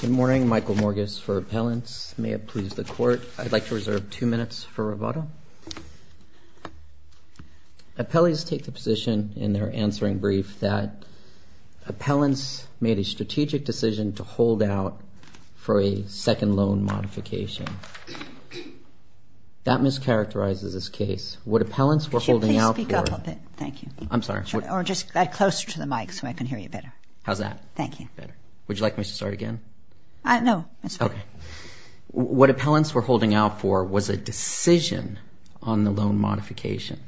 Good morning, Michael Morgus for Appellants. May it please the court, I'd like to reserve two minutes for rebuttal. Appellees take the position in their answering brief that appellants made a strategic decision to hold out for a second loan modification. That mischaracterizes this case. What appellants were holding out for... Could you please speak up a bit? Thank you. I'm sorry. Or just get closer to the start again? No, I'm sorry. Okay. What appellants were holding out for was a decision on the loan modification.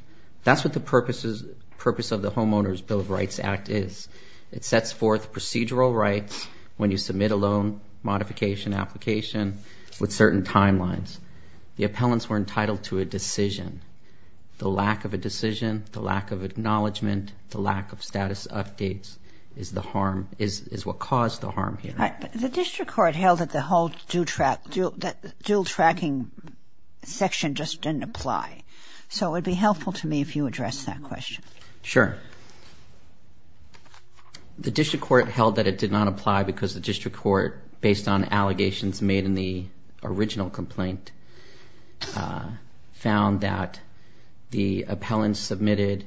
That's what the purpose of the Homeowners Bill of Rights Act is. It sets forth procedural rights when you submit a loan modification application with certain timelines. The appellants were entitled to a decision. The lack of a decision, the lack of acknowledgement, the harm is what caused the harm here. The district court held that the whole dual tracking section just didn't apply. So it would be helpful to me if you address that question. Sure. The district court held that it did not apply because the district court, based on allegations made in the original complaint, found that the appellants submitted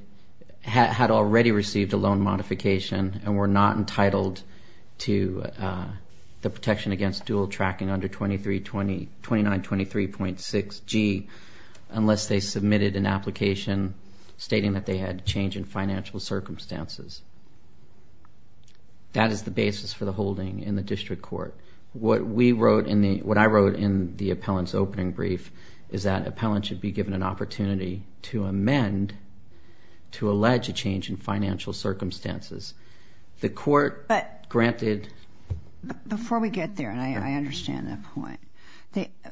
had already received a loan modification and were not entitled to the protection against dual tracking under 2923.6G unless they submitted an application stating that they had change in financial circumstances. That is the basis for the holding in the district court. What I wrote in the appellant's opening brief is that an appellant should be given an opportunity to amend, to allege a change in financial circumstances. The court granted. Before we get there, and I understand that point,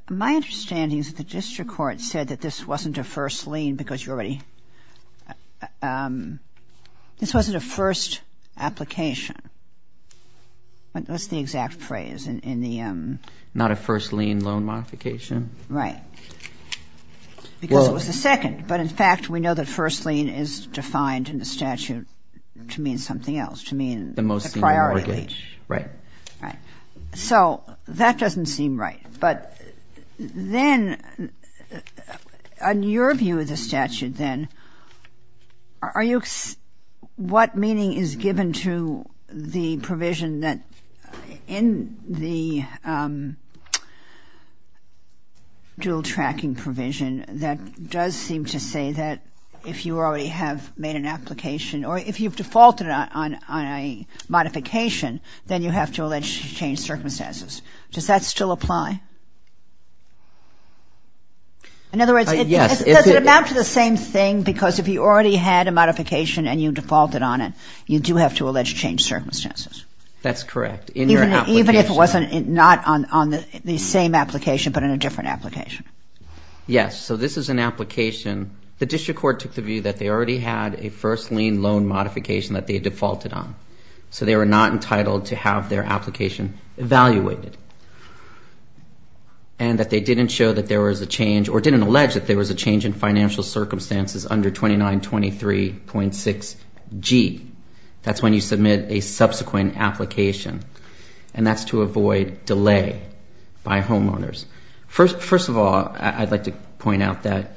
my understanding is that the district court said that this wasn't a first lien because you already, this wasn't a first application. What's the exact phrase in the? Not a first lien loan modification. Right. Because it was the second, but in fact we know that first lien is defined in the statute to mean something else, to mean the priority. The most senior mortgage. Right. So that doesn't seem right, but then, on your view of the statute then, are you, what meaning is given to the to say that if you already have made an application or if you've defaulted on a modification, then you have to allege change circumstances. Does that still apply? In other words, does it amount to the same thing because if you already had a modification and you defaulted on it, you do have to allege change circumstances? That's correct. Even if it wasn't, not on the same application, but in a different application? Yes. So this is an application, the district court took the view that they already had a first lien loan modification that they defaulted on. So they were not entitled to have their application evaluated. And that they didn't show that there was a change or didn't allege that there was a change in financial circumstances under 2923.6G. That's when you submit a subsequent application. And that's to avoid delay by homeowners. First of all, I'd like to point out that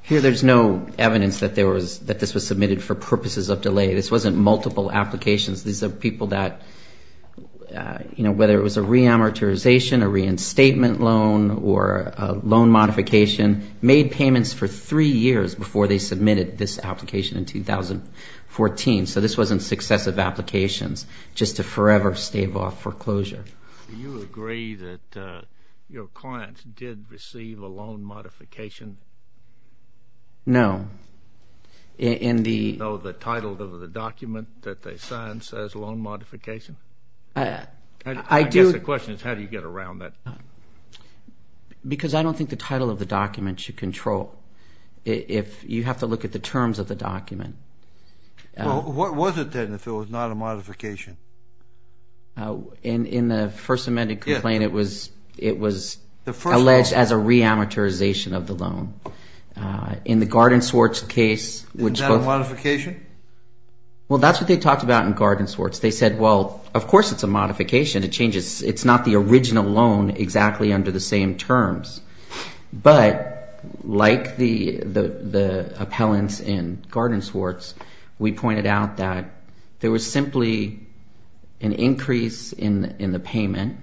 here there's no evidence that this was submitted for purposes of delay. This wasn't multiple applications. These are people that, you know, whether it was a re-amortization, a reinstatement loan, or a loan modification, made payments for three years before they submitted this application in 2014. So this wasn't successive applications, just to forever stave off foreclosure. Do you agree that your clients did receive a loan modification? No. In the title of the document that they signed says loan modification? I guess the question is how do you get around that? Because I don't think the title of the document should control. You have to look at the terms of the document. Well, what was it then if it was not a modification? In the first amended complaint, it was alleged as a re-amortization of the loan. In the Garden Swartz case... Isn't that a modification? Well, that's what they talked about in Garden Swartz. They said, well, of course it's a modification. It changes. It's not the original loan exactly under the same terms. But like the appellants in Garden Swartz, we pointed out that there was simply an increase in the payment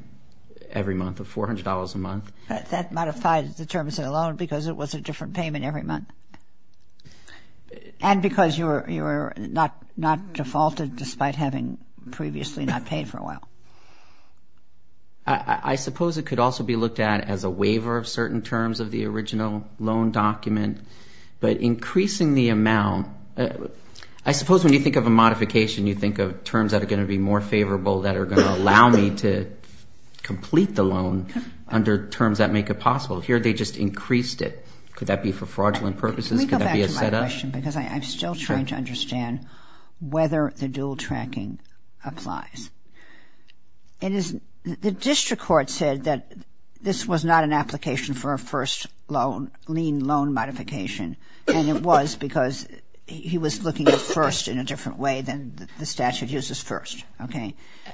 every month of $400 a month. That modified the terms of the loan because it was a different payment every month? And because you were not defaulted despite having previously not paid for a while? I suppose it could also be looked at as a waiver of certain terms of the original loan document. But increasing the amount... I suppose when you think of a modification, you think of terms that are going to be more favorable that are going to allow me to complete the loan under terms that make it possible. Here they just increased it. Could that be for fraudulent purposes? Could that be a setup? Can we go back to my question? Because I'm still trying to understand whether the dual tracking applies. The district court said that this was not an application for a first loan, lien loan modification, and it was because he was looking at first in a different way than the statute uses first.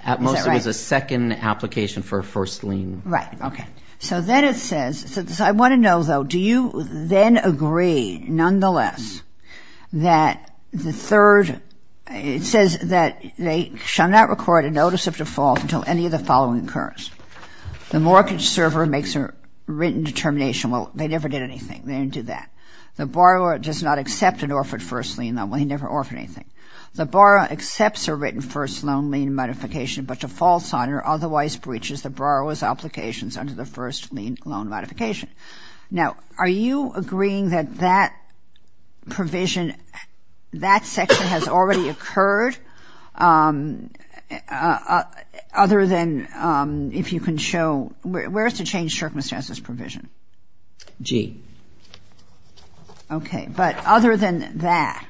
At most, it was a second application for a first lien. Right. Okay. So then it says... I want to know though, do you then agree, nonetheless, that the third... It says that they shall not record a notice of default until any of the following occurs. The mortgage server makes a written determination. Well, they never did anything. They didn't do that. The borrower does not accept an offer of first lien. Well, he never offered anything. The borrower accepts a written first loan, lien modification, but defaults on or otherwise breaches the borrower's under the first lien loan modification. Now, are you agreeing that that provision, that section has already occurred other than if you can show... Where's the change circumstances provision? G. Okay. But other than that,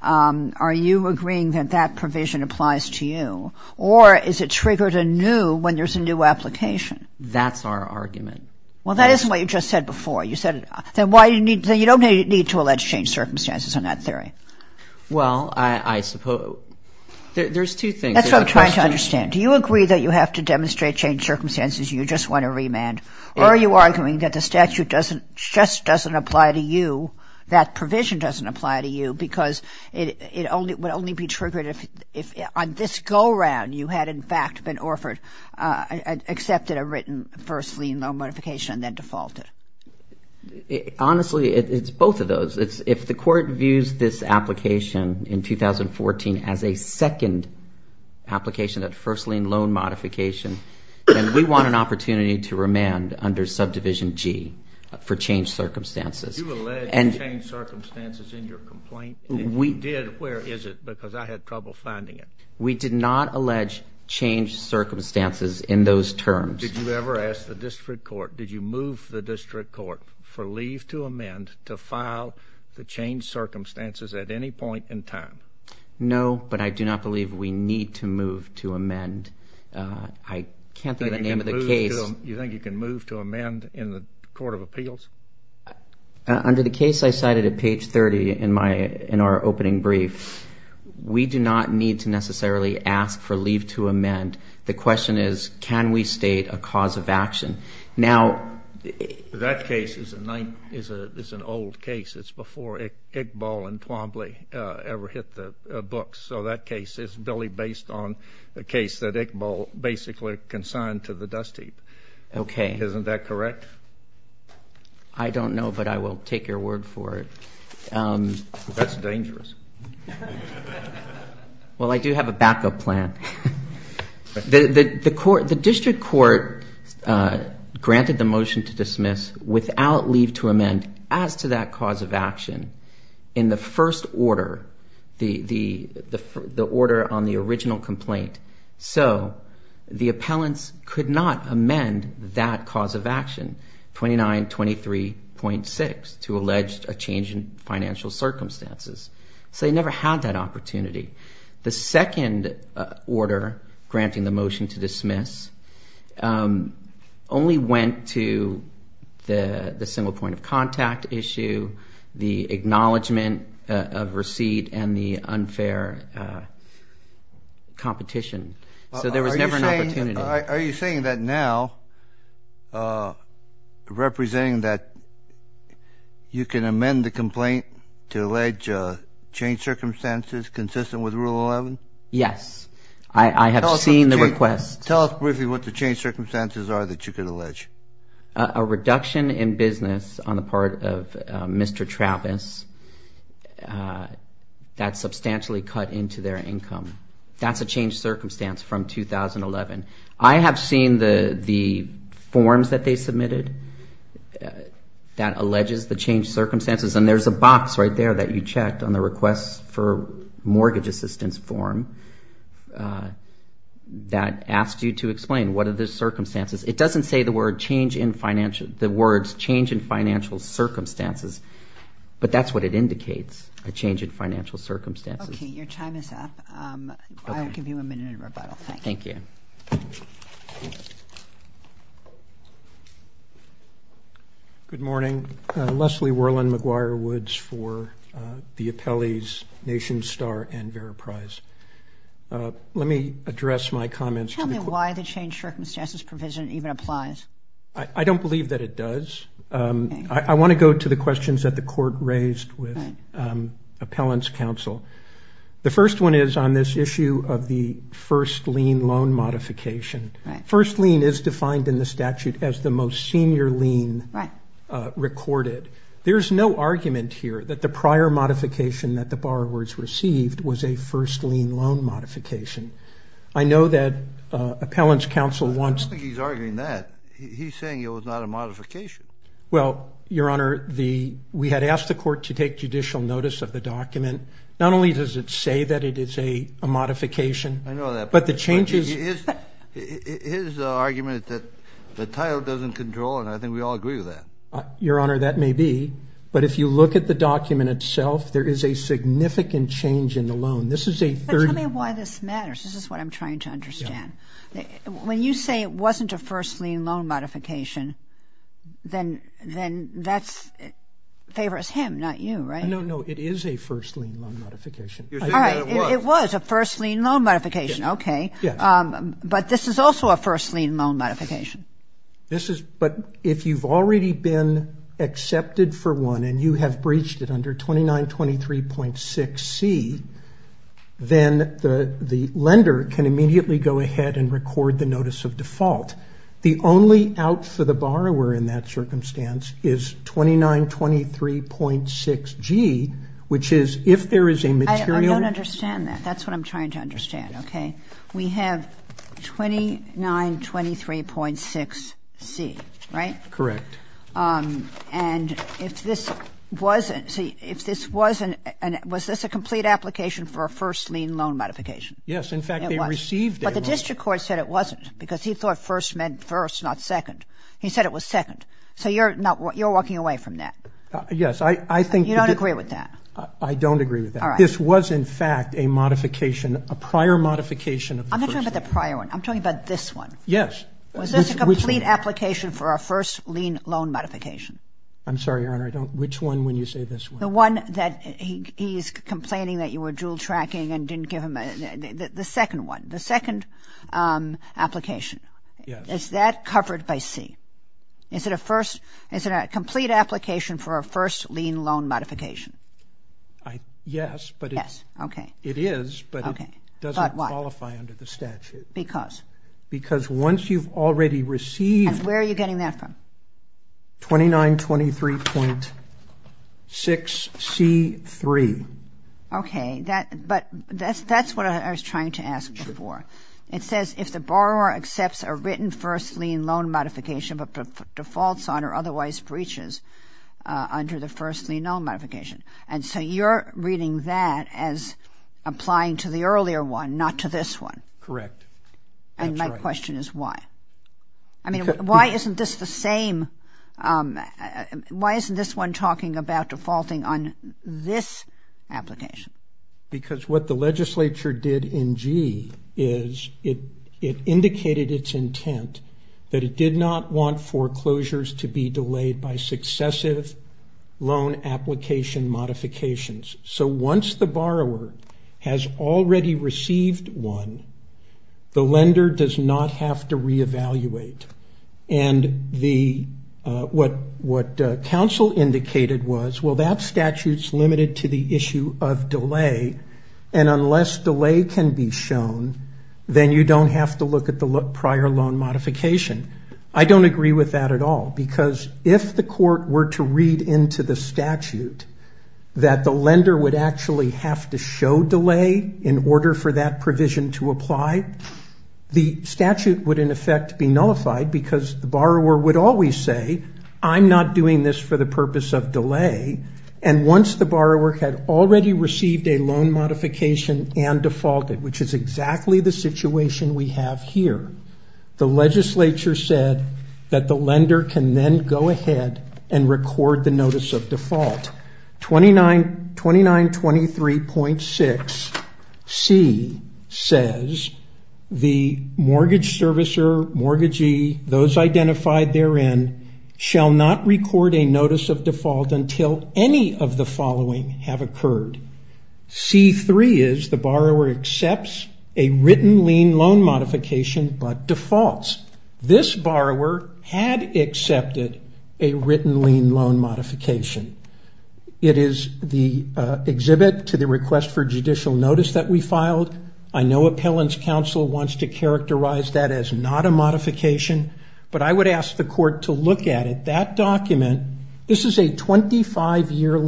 are you agreeing that that is our argument? Well, that isn't what you just said before. You said... Then why do you need... Then you don't need to allege change circumstances on that theory. Well, I suppose... There's two things. That's what I'm trying to understand. Do you agree that you have to demonstrate change circumstances, you just want a remand, or are you arguing that the statute doesn't, just doesn't apply to you, that provision doesn't apply to you because it only would only be triggered if on this go forward, I accepted a written first lien loan modification and then defaulted? Honestly, it's both of those. If the court views this application in 2014 as a second application, that first lien loan modification, then we want an opportunity to remand under subdivision G for change circumstances. You allege change circumstances in your complaint. If you did, where is it? Because I had trouble finding it. We did not allege change circumstances in those terms. Did you ever ask the district court, did you move the district court for leave to amend to file the change circumstances at any point in time? No, but I do not believe we need to move to amend. I can't think of the name of the case. You think you can move to amend in the Court of Appeals? Under the case I cited at page 30 in my, in our opening brief, we do not need to necessarily ask for leave to amend. The question is, can we state a cause of action? Now, that case is an old case. It's before Iqbal and Twombly ever hit the books. So that case is really based on a case that Iqbal basically consigned to the dust heap. Okay. Isn't that correct? I don't know, but I will take your word for it. That's dangerous. Well, I do have a backup plan. The court, the district court granted the motion to dismiss without leave to amend as to that cause of action in the first order, the order on the original complaint. So the appellants could not amend that cause of action, 2923.6. To allege a change in financial circumstances. So they never had that opportunity. The second order granting the motion to dismiss only went to the the single point of contact issue, the acknowledgement of receipt, and the unfair competition. So there was never an opportunity. Are you saying that now representing that you can amend the complaint to allege change circumstances consistent with Rule 11? Yes. I have seen the request. Tell us briefly what the change circumstances are that you could allege. A reduction in business on the part of Mr. Travis. That's substantially cut into their income. That's a change that they submitted that alleges the change circumstances. And there's a box right there that you checked on the request for mortgage assistance form that asked you to explain what are the circumstances. It doesn't say the words change in financial circumstances, but that's what it indicates, a change in financial circumstances. Okay, your time is up. I'll give you a minute in Good morning. Leslie Worland, McGuire Woods for the Appellee's Nation Star and Vera Prize. Let me address my comments. Tell me why the change circumstances provision even applies. I don't believe that it does. I want to go to the questions that the court raised with Appellant's Counsel. The first one is on this issue of the first lien loan modification. First lien is defined in the statute as the most senior lien recorded. There's no argument here that the prior modification that the borrowers received was a first lien loan modification. I know that Appellant's Counsel wants... I don't think he's arguing that. He's saying it was not a modification. Well, your honor, we had asked the court to take judicial notice of the document. Not only does it say that it is a modification, but the changes... Here's the argument that the title doesn't control, and I think we all agree with that. Your honor, that may be, but if you look at the document itself, there is a significant change in the loan. This is a 30... Tell me why this matters. This is what I'm trying to understand. When you say it wasn't a first lien loan modification, then that favors him, not you, right? No, no, it is a first lien loan modification. Okay, but this is also a first lien loan modification. But if you've already been accepted for one and you have breached it under 2923.6c, then the lender can immediately go ahead and record the notice of default. The only out for the borrower in that That's what I'm trying to understand, okay? We have 2923.6c, right? Correct. And if this wasn't... See, if this wasn't... Was this a complete application for a first lien loan modification? Yes, in fact, they received it. But the district court said it wasn't, because he thought first meant first, not second. He said it was second. So you're not... You're walking away from that. Yes, I think... You don't agree with that. I don't agree with that. This was, in fact, a modification, a prior modification. I'm not talking about the prior one. I'm talking about this one. Yes. Was this a complete application for our first lien loan modification? I'm sorry, Your Honor, I don't... Which one when you say this one? The one that he's complaining that you were dual tracking and didn't give him... The second one. The second application. Is that covered by C? Is it a first... Is it a complete application for a first lien loan modification? Yes, but it's... Yes, okay. It is, but it doesn't qualify under the statute. Because? Because once you've already received... And where are you getting that from? 2923.6c3. Okay, that... But that's what I was trying to ask before. It says if the borrower accepts a written first lien loan modification but defaults on or otherwise breaches under the first lien loan modification. And so you're reading that as applying to the earlier one, not to this one? Correct. And my question is why? I mean, why isn't this the same? Why isn't this one talking about defaulting on this application? Because what the legislature did in G is it indicated its delayed by successive loan application modifications. So once the borrower has already received one, the lender does not have to re-evaluate. And what counsel indicated was, well, that statute's limited to the issue of delay, and unless delay can be shown, then you don't have to look at the prior loan modification. I don't agree with that at all. Because if the court were to read into the statute that the lender would actually have to show delay in order for that provision to apply, the statute would in effect be nullified because the borrower would always say, I'm not doing this for the purpose of delay. And once the borrower had already received a loan modification and defaulted, which is exactly the situation we have here, the legislature said that the lender can then go ahead and record the notice of default. 2923.6C says the mortgage servicer, mortgagee, those identified therein, shall not record a notice of default until any of the following have occurred. C-3 is the borrower accepts a written lien loan modification but defaults. This borrower had accepted a written lien loan modification. It is the exhibit to the request for judicial notice that we filed. I know appellants counsel wants to characterize that as not a modification, but I would ask the court to look at it. That document, this is a 25-year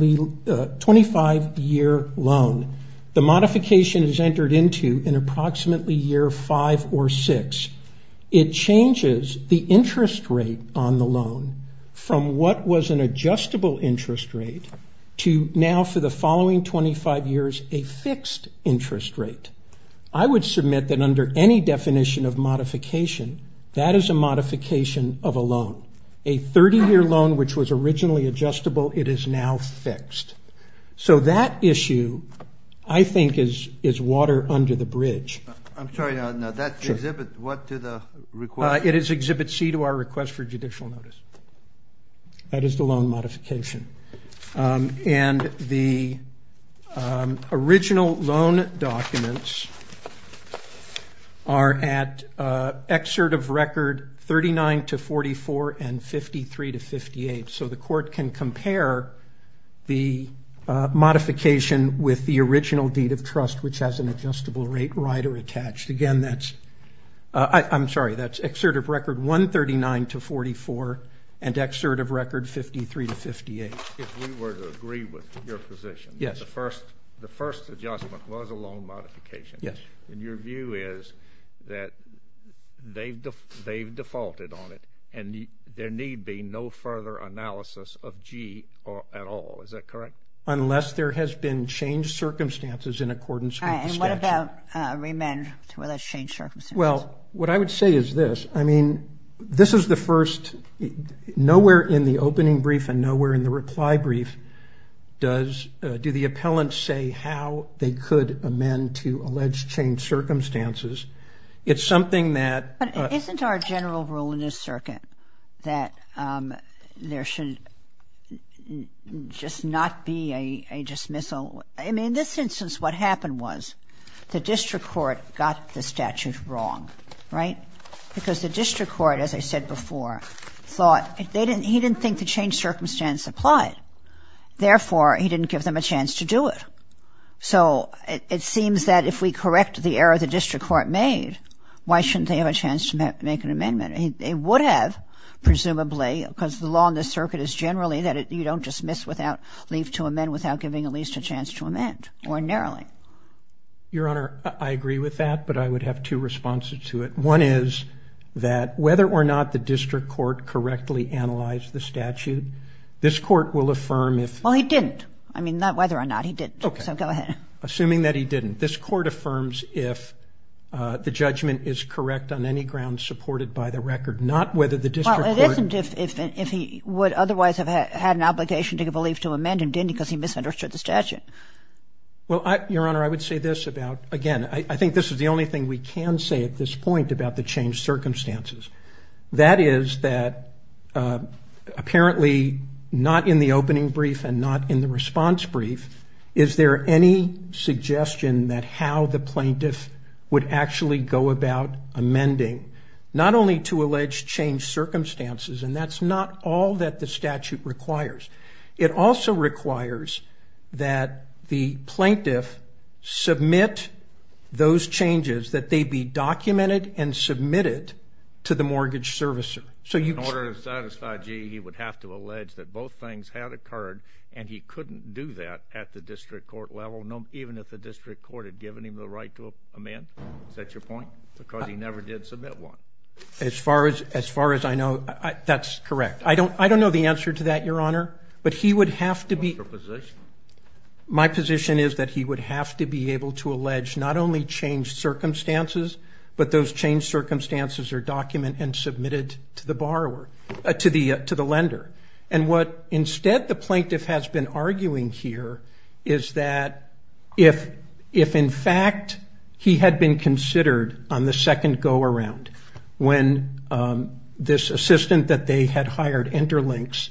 loan. The modification is entered into in approximately year 5 or 6. It changes the interest rate on the loan from what was an adjustable interest rate to now for the following 25 years, a fixed interest rate. I would submit that under any definition of modification, that is a modification of a loan. A 30-year loan which was originally adjustable, it is now fixed. So that issue I think is water under the bridge. It is exhibit C to our request for judicial notice. That is the loan modification. And the original loan documents are at excerpt of record 39-44 and 53-58. So the court can compare the modification with the original deed of trust which has an adjustable rate rider attached. Again, that's, I'm sorry, that's excerpt of record 139-44 and excerpt of record 53-58. If we were to agree with your position, the first adjustment was a loan modification. Yes. And your view is that they've defaulted on it and there need be no further analysis of G at all. Is that correct? Unless there has been changed circumstances in accordance with the statute. And what about remand with a changed circumstance? Well, what I would say is this. I mean, this is the first, nowhere in the opening brief and nowhere in the reply brief does, do the appellants say how they could amend to alleged changed circumstances. It's something that... But isn't our general rule in this circuit that there should just not be a dismissal? I mean, in this instance what happened was the district court got the statute wrong, right? Because the district court, as I said before, thought they didn't, he didn't think the changed circumstance applied. Therefore, he didn't give them a chance to do it. So it seems that if we correct the error the district court made, why shouldn't they have a chance to make an amendment? They would have, presumably, because the law in this circuit is generally that you don't dismiss without leave to amend without giving at least a chance to amend ordinarily. Your Honor, I agree with that, but I would have two responses to it. One is that whether or not the district court correctly analyzed the statute, this court will affirm if... Well, he didn't. I mean, not whether or not, he didn't. So go ahead. Assuming that he didn't, this court affirms if the judgment is correct on any ground supported by the record, not whether the district court... Well, it isn't if he would otherwise have had an obligation to give a leave to amend and didn't because he misunderstood the statute. Well, Your Honor, I would say this about, again, I think this is the only thing we can say at this point about the changed circumstances. That is that apparently not in the opening brief and not in the response brief is there any suggestion that how the plaintiff would actually go about amending, not only to allege changed circumstances, and that's not all that the statute requires. It also requires that the plaintiff submit those changes, that they be documented and submitted to the mortgage servicer. So in order to satisfy G, he would have to allege that both things had occurred and he couldn't do that at the district court level, even if the district court had given him the right to amend? Is that your point? Because he never did submit one. As far as I know, that's correct. I don't know the answer to that, Your Honor. But he would have to be... What's your position? My position is that he would have to be able to allege not only changed circumstances, but those changed circumstances are documented and submitted to the borrower, to the lender. And what instead the plaintiff has been arguing here is that if in fact he had been considered on the second go-around when this assistant that they had hired, Interlinks,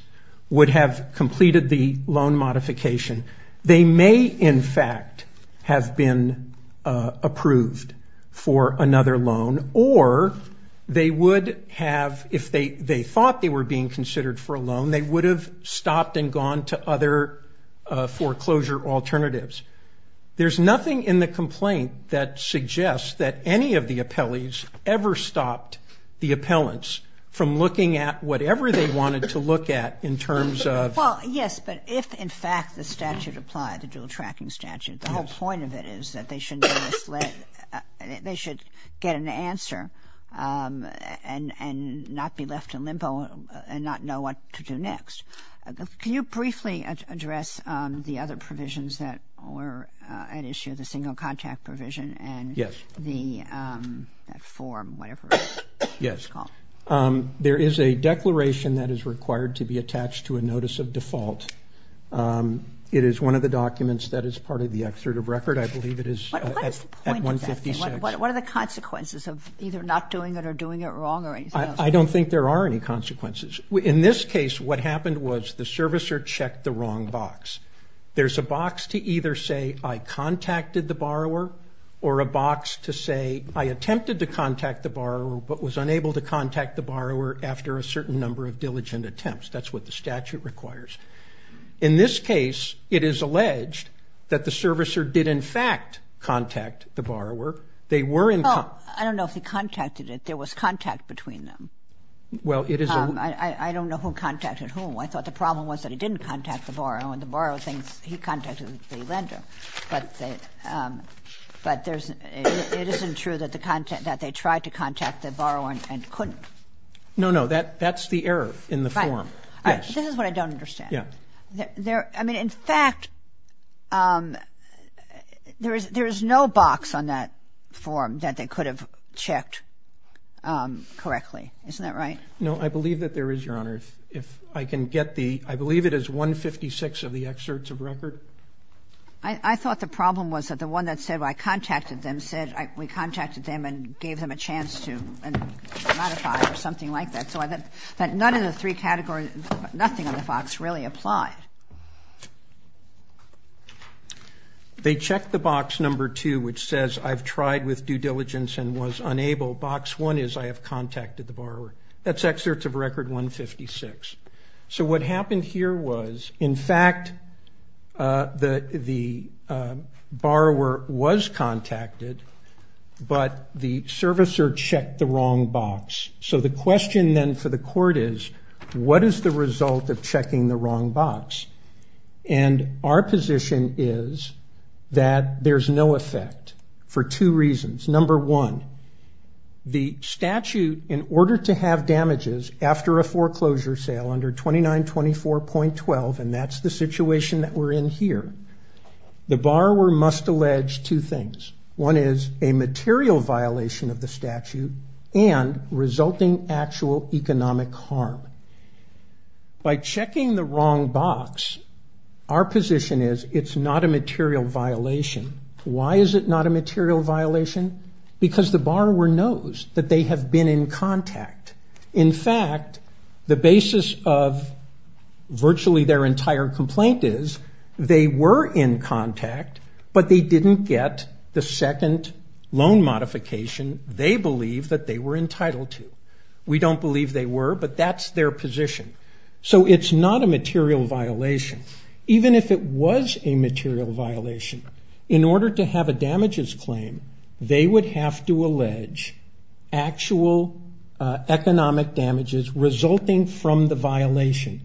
would have completed the loan modification, they may in fact have been approved for another loan or they would have, if they thought they were being considered for a loan, they would have stopped and gone to other foreclosure alternatives. There's nothing in the complaint that suggests that any of the appellees ever stopped the appellants from looking at whatever they wanted to look at in terms of... Well, yes, but if in fact the statute applied, the dual tracking statute, the whole point of it is that they should get an answer and not be left in limbo and not know what to do next. Can you briefly address the other provisions that were at issue, the single contact provision and the form, whatever it's called? There is a declaration that is required to be attached to a notice of default. It is one of the documents that is part of the excerpt of record. I believe it is at 156. What are the consequences of either not doing it or doing it wrong or anything else? I don't think there are any consequences. In this case, what happened was the servicer checked the wrong box. There's a box to either say, I contacted the borrower or a box to say, I attempted to contact the borrower but was unable to contact the borrower after a certain number of diligent attempts. That's what the statute requires. In this case, it is alleged that the servicer did in fact contact the borrower. They were in contact. I don't know if he contacted it. There was contact between them. I don't know who contacted whom. I thought the problem was that he didn't contact the borrower and the borrower thinks to contact the lender. But it isn't true that they tried to contact the borrower and couldn't. No, no. That's the error in the form. Right. This is what I don't understand. Yeah. I mean, in fact, there is no box on that form that they could have checked correctly. Isn't that right? No. I believe that there is, Your Honor. If I can get the — I believe it is 156 of the I thought the problem was that the one that said, well, I contacted them said, we contacted them and gave them a chance to modify or something like that. So I think that none of the three categories, nothing on the box really applied. They checked the box number two, which says, I've tried with due diligence and was unable. Box one is, I have contacted the borrower. That's excerpts of record 156. So what happened here was, in fact, the borrower was contacted, but the servicer checked the wrong box. So the question then for the court is, what is the result of checking the wrong box? And our position is that there's no effect for two reasons. Number one, the statute, in order to have damages after a foreclosure sale under 2924.12, and that's the situation that we're in here, the borrower must allege two things. One is a material violation of the statute and resulting actual economic harm. By checking the wrong box, our position is it's not a material violation. Why is it not a material violation? Because the borrower knows that they have been in contact. In fact, the basis of virtually their entire complaint is, they were in contact, but they didn't get the second loan modification they believe that they were entitled to. We don't believe they were, but that's their position. So it's not a material violation. Even if it was a material violation, in order to have a damages claim, they would have to allege actual economic damages resulting from the violation.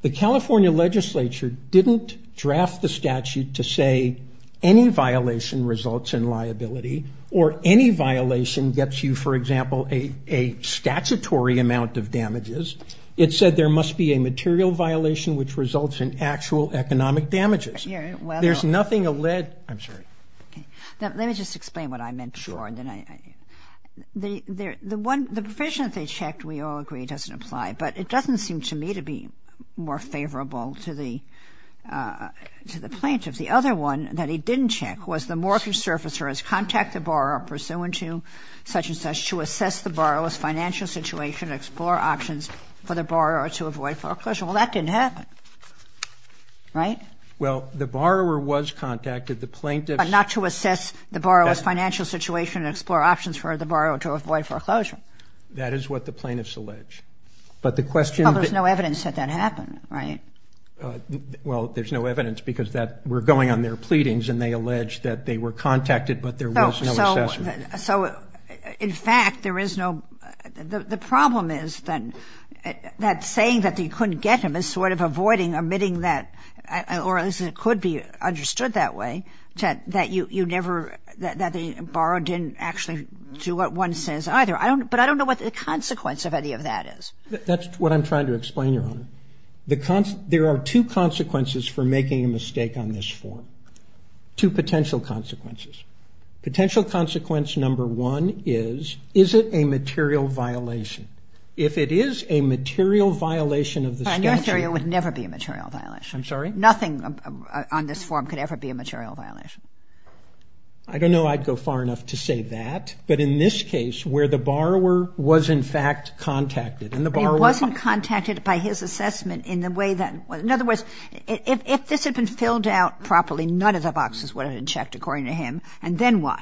The California Legislature didn't draft the statute to say any violation results in liability or any violation gets you, for example, a statutory amount of damages. It said there must be a material violation which results in actual economic damages. There's nothing alleged. I'm sorry. Okay. Now, let me just explain what I meant before, and then I — the one — the provision that they checked, we all agree, doesn't apply. But it doesn't seem to me to be more favorable to the plaintiff. The other one that he didn't check was the mortgage servicer has contacted the borrower pursuant to such-and-such to assess the borrower's financial situation and explore options for the borrower to avoid foreclosure. Well, that didn't happen, right? Well, the borrower was contacted. The plaintiff's — But not to assess the borrower's financial situation and explore options for the borrower to avoid foreclosure. That is what the plaintiffs allege. But the question — Well, there's no evidence that that happened, right? Well, there's no evidence because that — we're going on their pleadings, and they allege that they were contacted, but there was no assessment. So in fact, there is no — the problem is that saying that they couldn't get him is sort of avoiding, omitting that — or at least it could be understood that way, that you never — that the borrower didn't actually do what one says either. But I don't know what the consequence of any of that is. That's what I'm trying to explain, Your Honor. The — there are two consequences for making a mistake on this form, two potential consequences. Potential consequence number one is, is it a material violation? If it is a material violation of the statute — A material — it would never be a material violation. I'm sorry? Nothing on this form could ever be a material violation. I don't know I'd go far enough to say that. But in this case, where the borrower was in fact contacted, and the borrower — But he wasn't contacted by his assessment in the way that — in other words, if this had been filled out properly, none of the boxes would have been checked, according to him. And then what?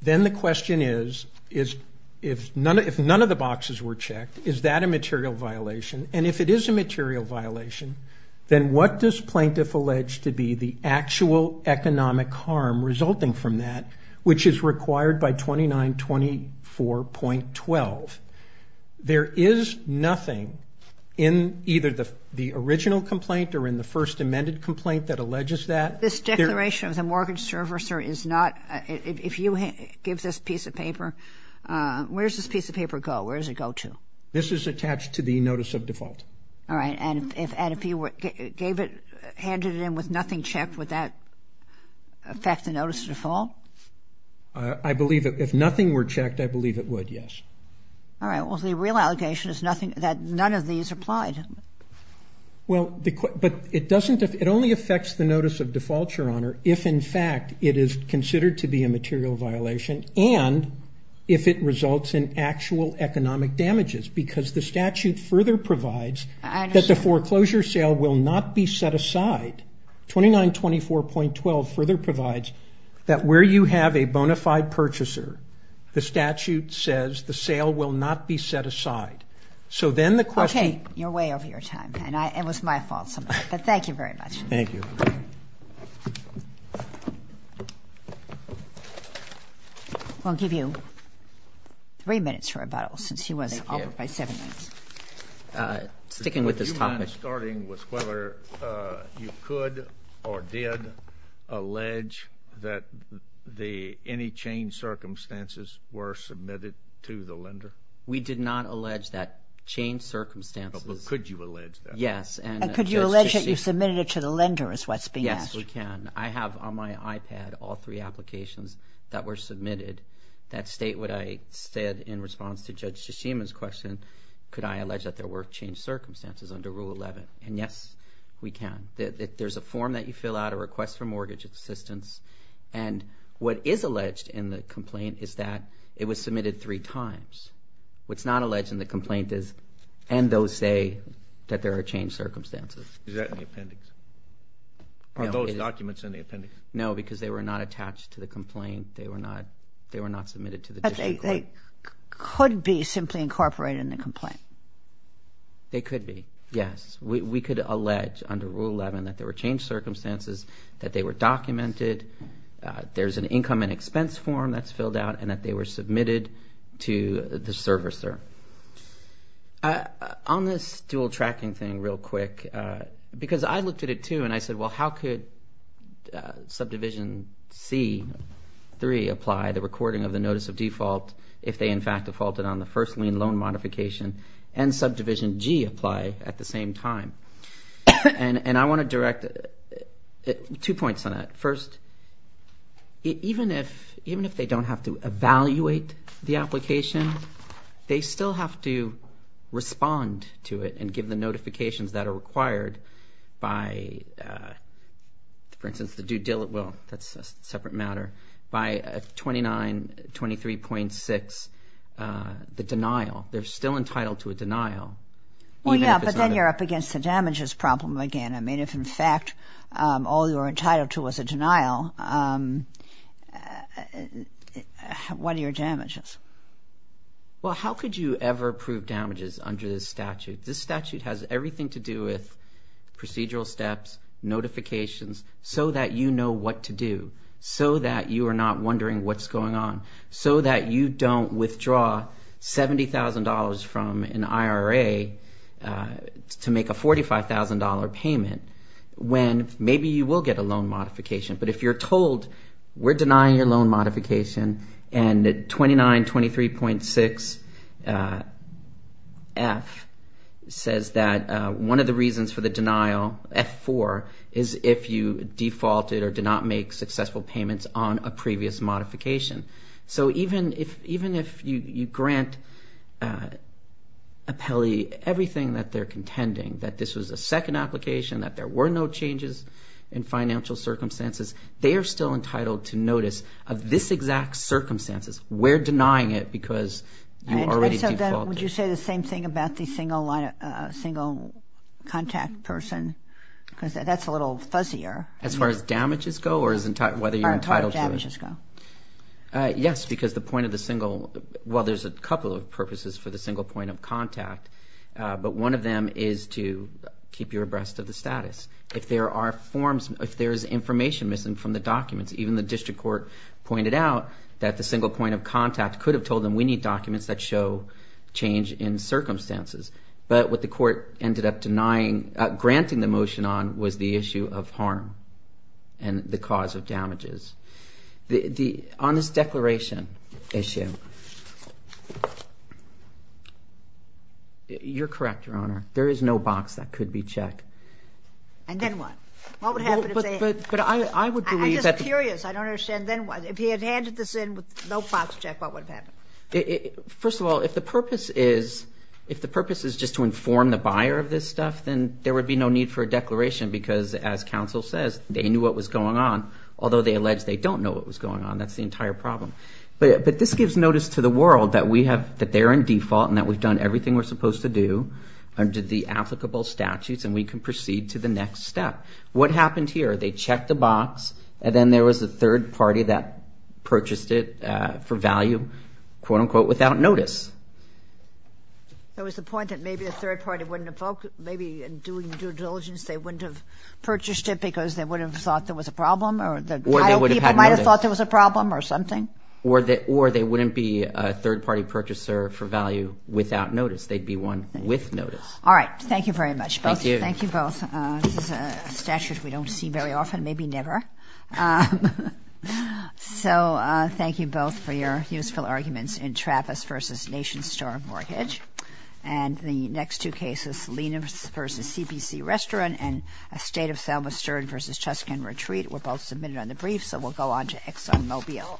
Then the question is, is — if none of the boxes were checked, is that a material violation? And if it is a material violation, then what does plaintiff allege to be the actual economic harm resulting from that, which is required by 2924.12? There is nothing in either the original complaint or in the first amended complaint that alleges that. This declaration of the mortgage servicer is not — if you give this piece of paper — where does this piece of paper go? Where does it go to? This is attached to the notice of default. All right. And if he were — gave it — handed it in with nothing checked, would that affect the notice of default? I believe — if nothing were checked, I believe it would, yes. All right. Well, the real allegation is nothing — that none of these applied. Well, but it doesn't — it only affects the notice of default, Your Honor, if in fact it is considered to be a material violation and if it results in actual economic damages, because the statute further provides that the foreclosure sale will not be set aside. 2924.12 further provides that where you have a bona fide purchaser, the statute says the sale will not be set aside. So then the question — Okay. You're way over your time, and I — it was my fault, so — but thank you very much. Thank you. I'll give you three minutes for rebuttal, since he wasn't offered by seven minutes. Sticking with this topic — Would you mind starting with whether you could or did allege that the — any change circumstances were submitted to the lender? We did not allege that change circumstances — But could you allege that? Yes. And — You submitted it to the lender is what's being asked. Yes, we can. I have on my iPad all three applications that were submitted that state what I said in response to Judge Tshishima's question, could I allege that there were change circumstances under Rule 11? And yes, we can. There's a form that you fill out, a request for mortgage assistance, and what is alleged in the complaint is that it was submitted three times. What's not alleged in the complaint is — and those say that there are change circumstances. Is that in the appendix? Are those documents in the appendix? No, because they were not attached to the complaint. They were not — they were not submitted to the district court. But they could be simply incorporated in the complaint. They could be, yes. We could allege under Rule 11 that there were change circumstances, that they were documented, there's an income and expense form that's filled out, and that they were submitted to the servicer. On this dual tracking thing real quick, because I looked at it, too, and I said, well, how could Subdivision C-3 apply, the recording of the notice of default, if they in fact defaulted on the first lien loan modification, and Subdivision G apply at the same time? And I want to direct two points on that. First, even if they don't have to evaluate the application, they still have to respond to it and give the notifications that are required by, for instance, the due dill — well, that's a separate matter — by 2923.6, the denial. They're still entitled to a denial, even if it's not a — Well, yeah, but then you're up against the damages problem again. I mean, if in fact all you were entitled to was a denial, what are your damages? Well, how could you ever prove damages under this statute? This statute has everything to do with procedural steps, notifications, so that you know what to do, so that you are not wondering what's going on, so that you don't withdraw $70,000 from an IRA to make a $45,000 payment when maybe you will get a loan modification. But if you're told we're not going to do that, 2923.6F says that one of the reasons for the denial, F4, is if you defaulted or did not make successful payments on a previous modification. So even if you grant appellee everything that they're contending, that this was a second application, that there were no changes in financial circumstances, they are still entitled to notice of this denying it because you already defaulted. Would you say the same thing about the single contact person? Because that's a little fuzzier. As far as damages go or whether you're entitled to it? As far as damages go. Yes, because the point of the single — well, there's a couple of purposes for the single point of contact, but one of them is to keep you abreast of the status. If there are forms — if there's information missing from the documents, even the district court pointed out that the single point of contact could have told them, we need documents that show change in circumstances. But what the court ended up denying — granting the motion on was the issue of harm and the cause of damages. On this declaration issue, you're correct, Your Honor. There is no box that could be checked. And then what? What would happen if they — I'm just curious. I don't understand. If he had handed this in with no box check, what would have happened? First of all, if the purpose is just to inform the buyer of this stuff, then there would be no need for a declaration because, as counsel says, they knew what was going on, although they allege they don't know what was going on. That's the entire problem. But this gives notice to the world that we have — that they're in default and that we've done everything we're supposed to do under the applicable statutes and we can proceed to the next step. What happened here? They checked the box and then there was a third party that purchased it for value, quote-unquote, without notice. There was a point that maybe a third party wouldn't have — maybe in doing due diligence they wouldn't have purchased it because they wouldn't have thought there was a problem or the buyer people might have thought there was a problem or something? Or they wouldn't be a third-party purchaser for value without notice. They'd be one with notice. All right. Thank you very much. Thank you. Thank you both. This is a statute we don't see very often, maybe never. So, thank you both for your useful arguments in Travis v. Nation Store Mortgage. And the next two cases, Lenox v. CPC Restaurant and Estate of Selma Stern v. Cheskan Retreat were both submitted on the brief, so we'll go on to ExxonMobil.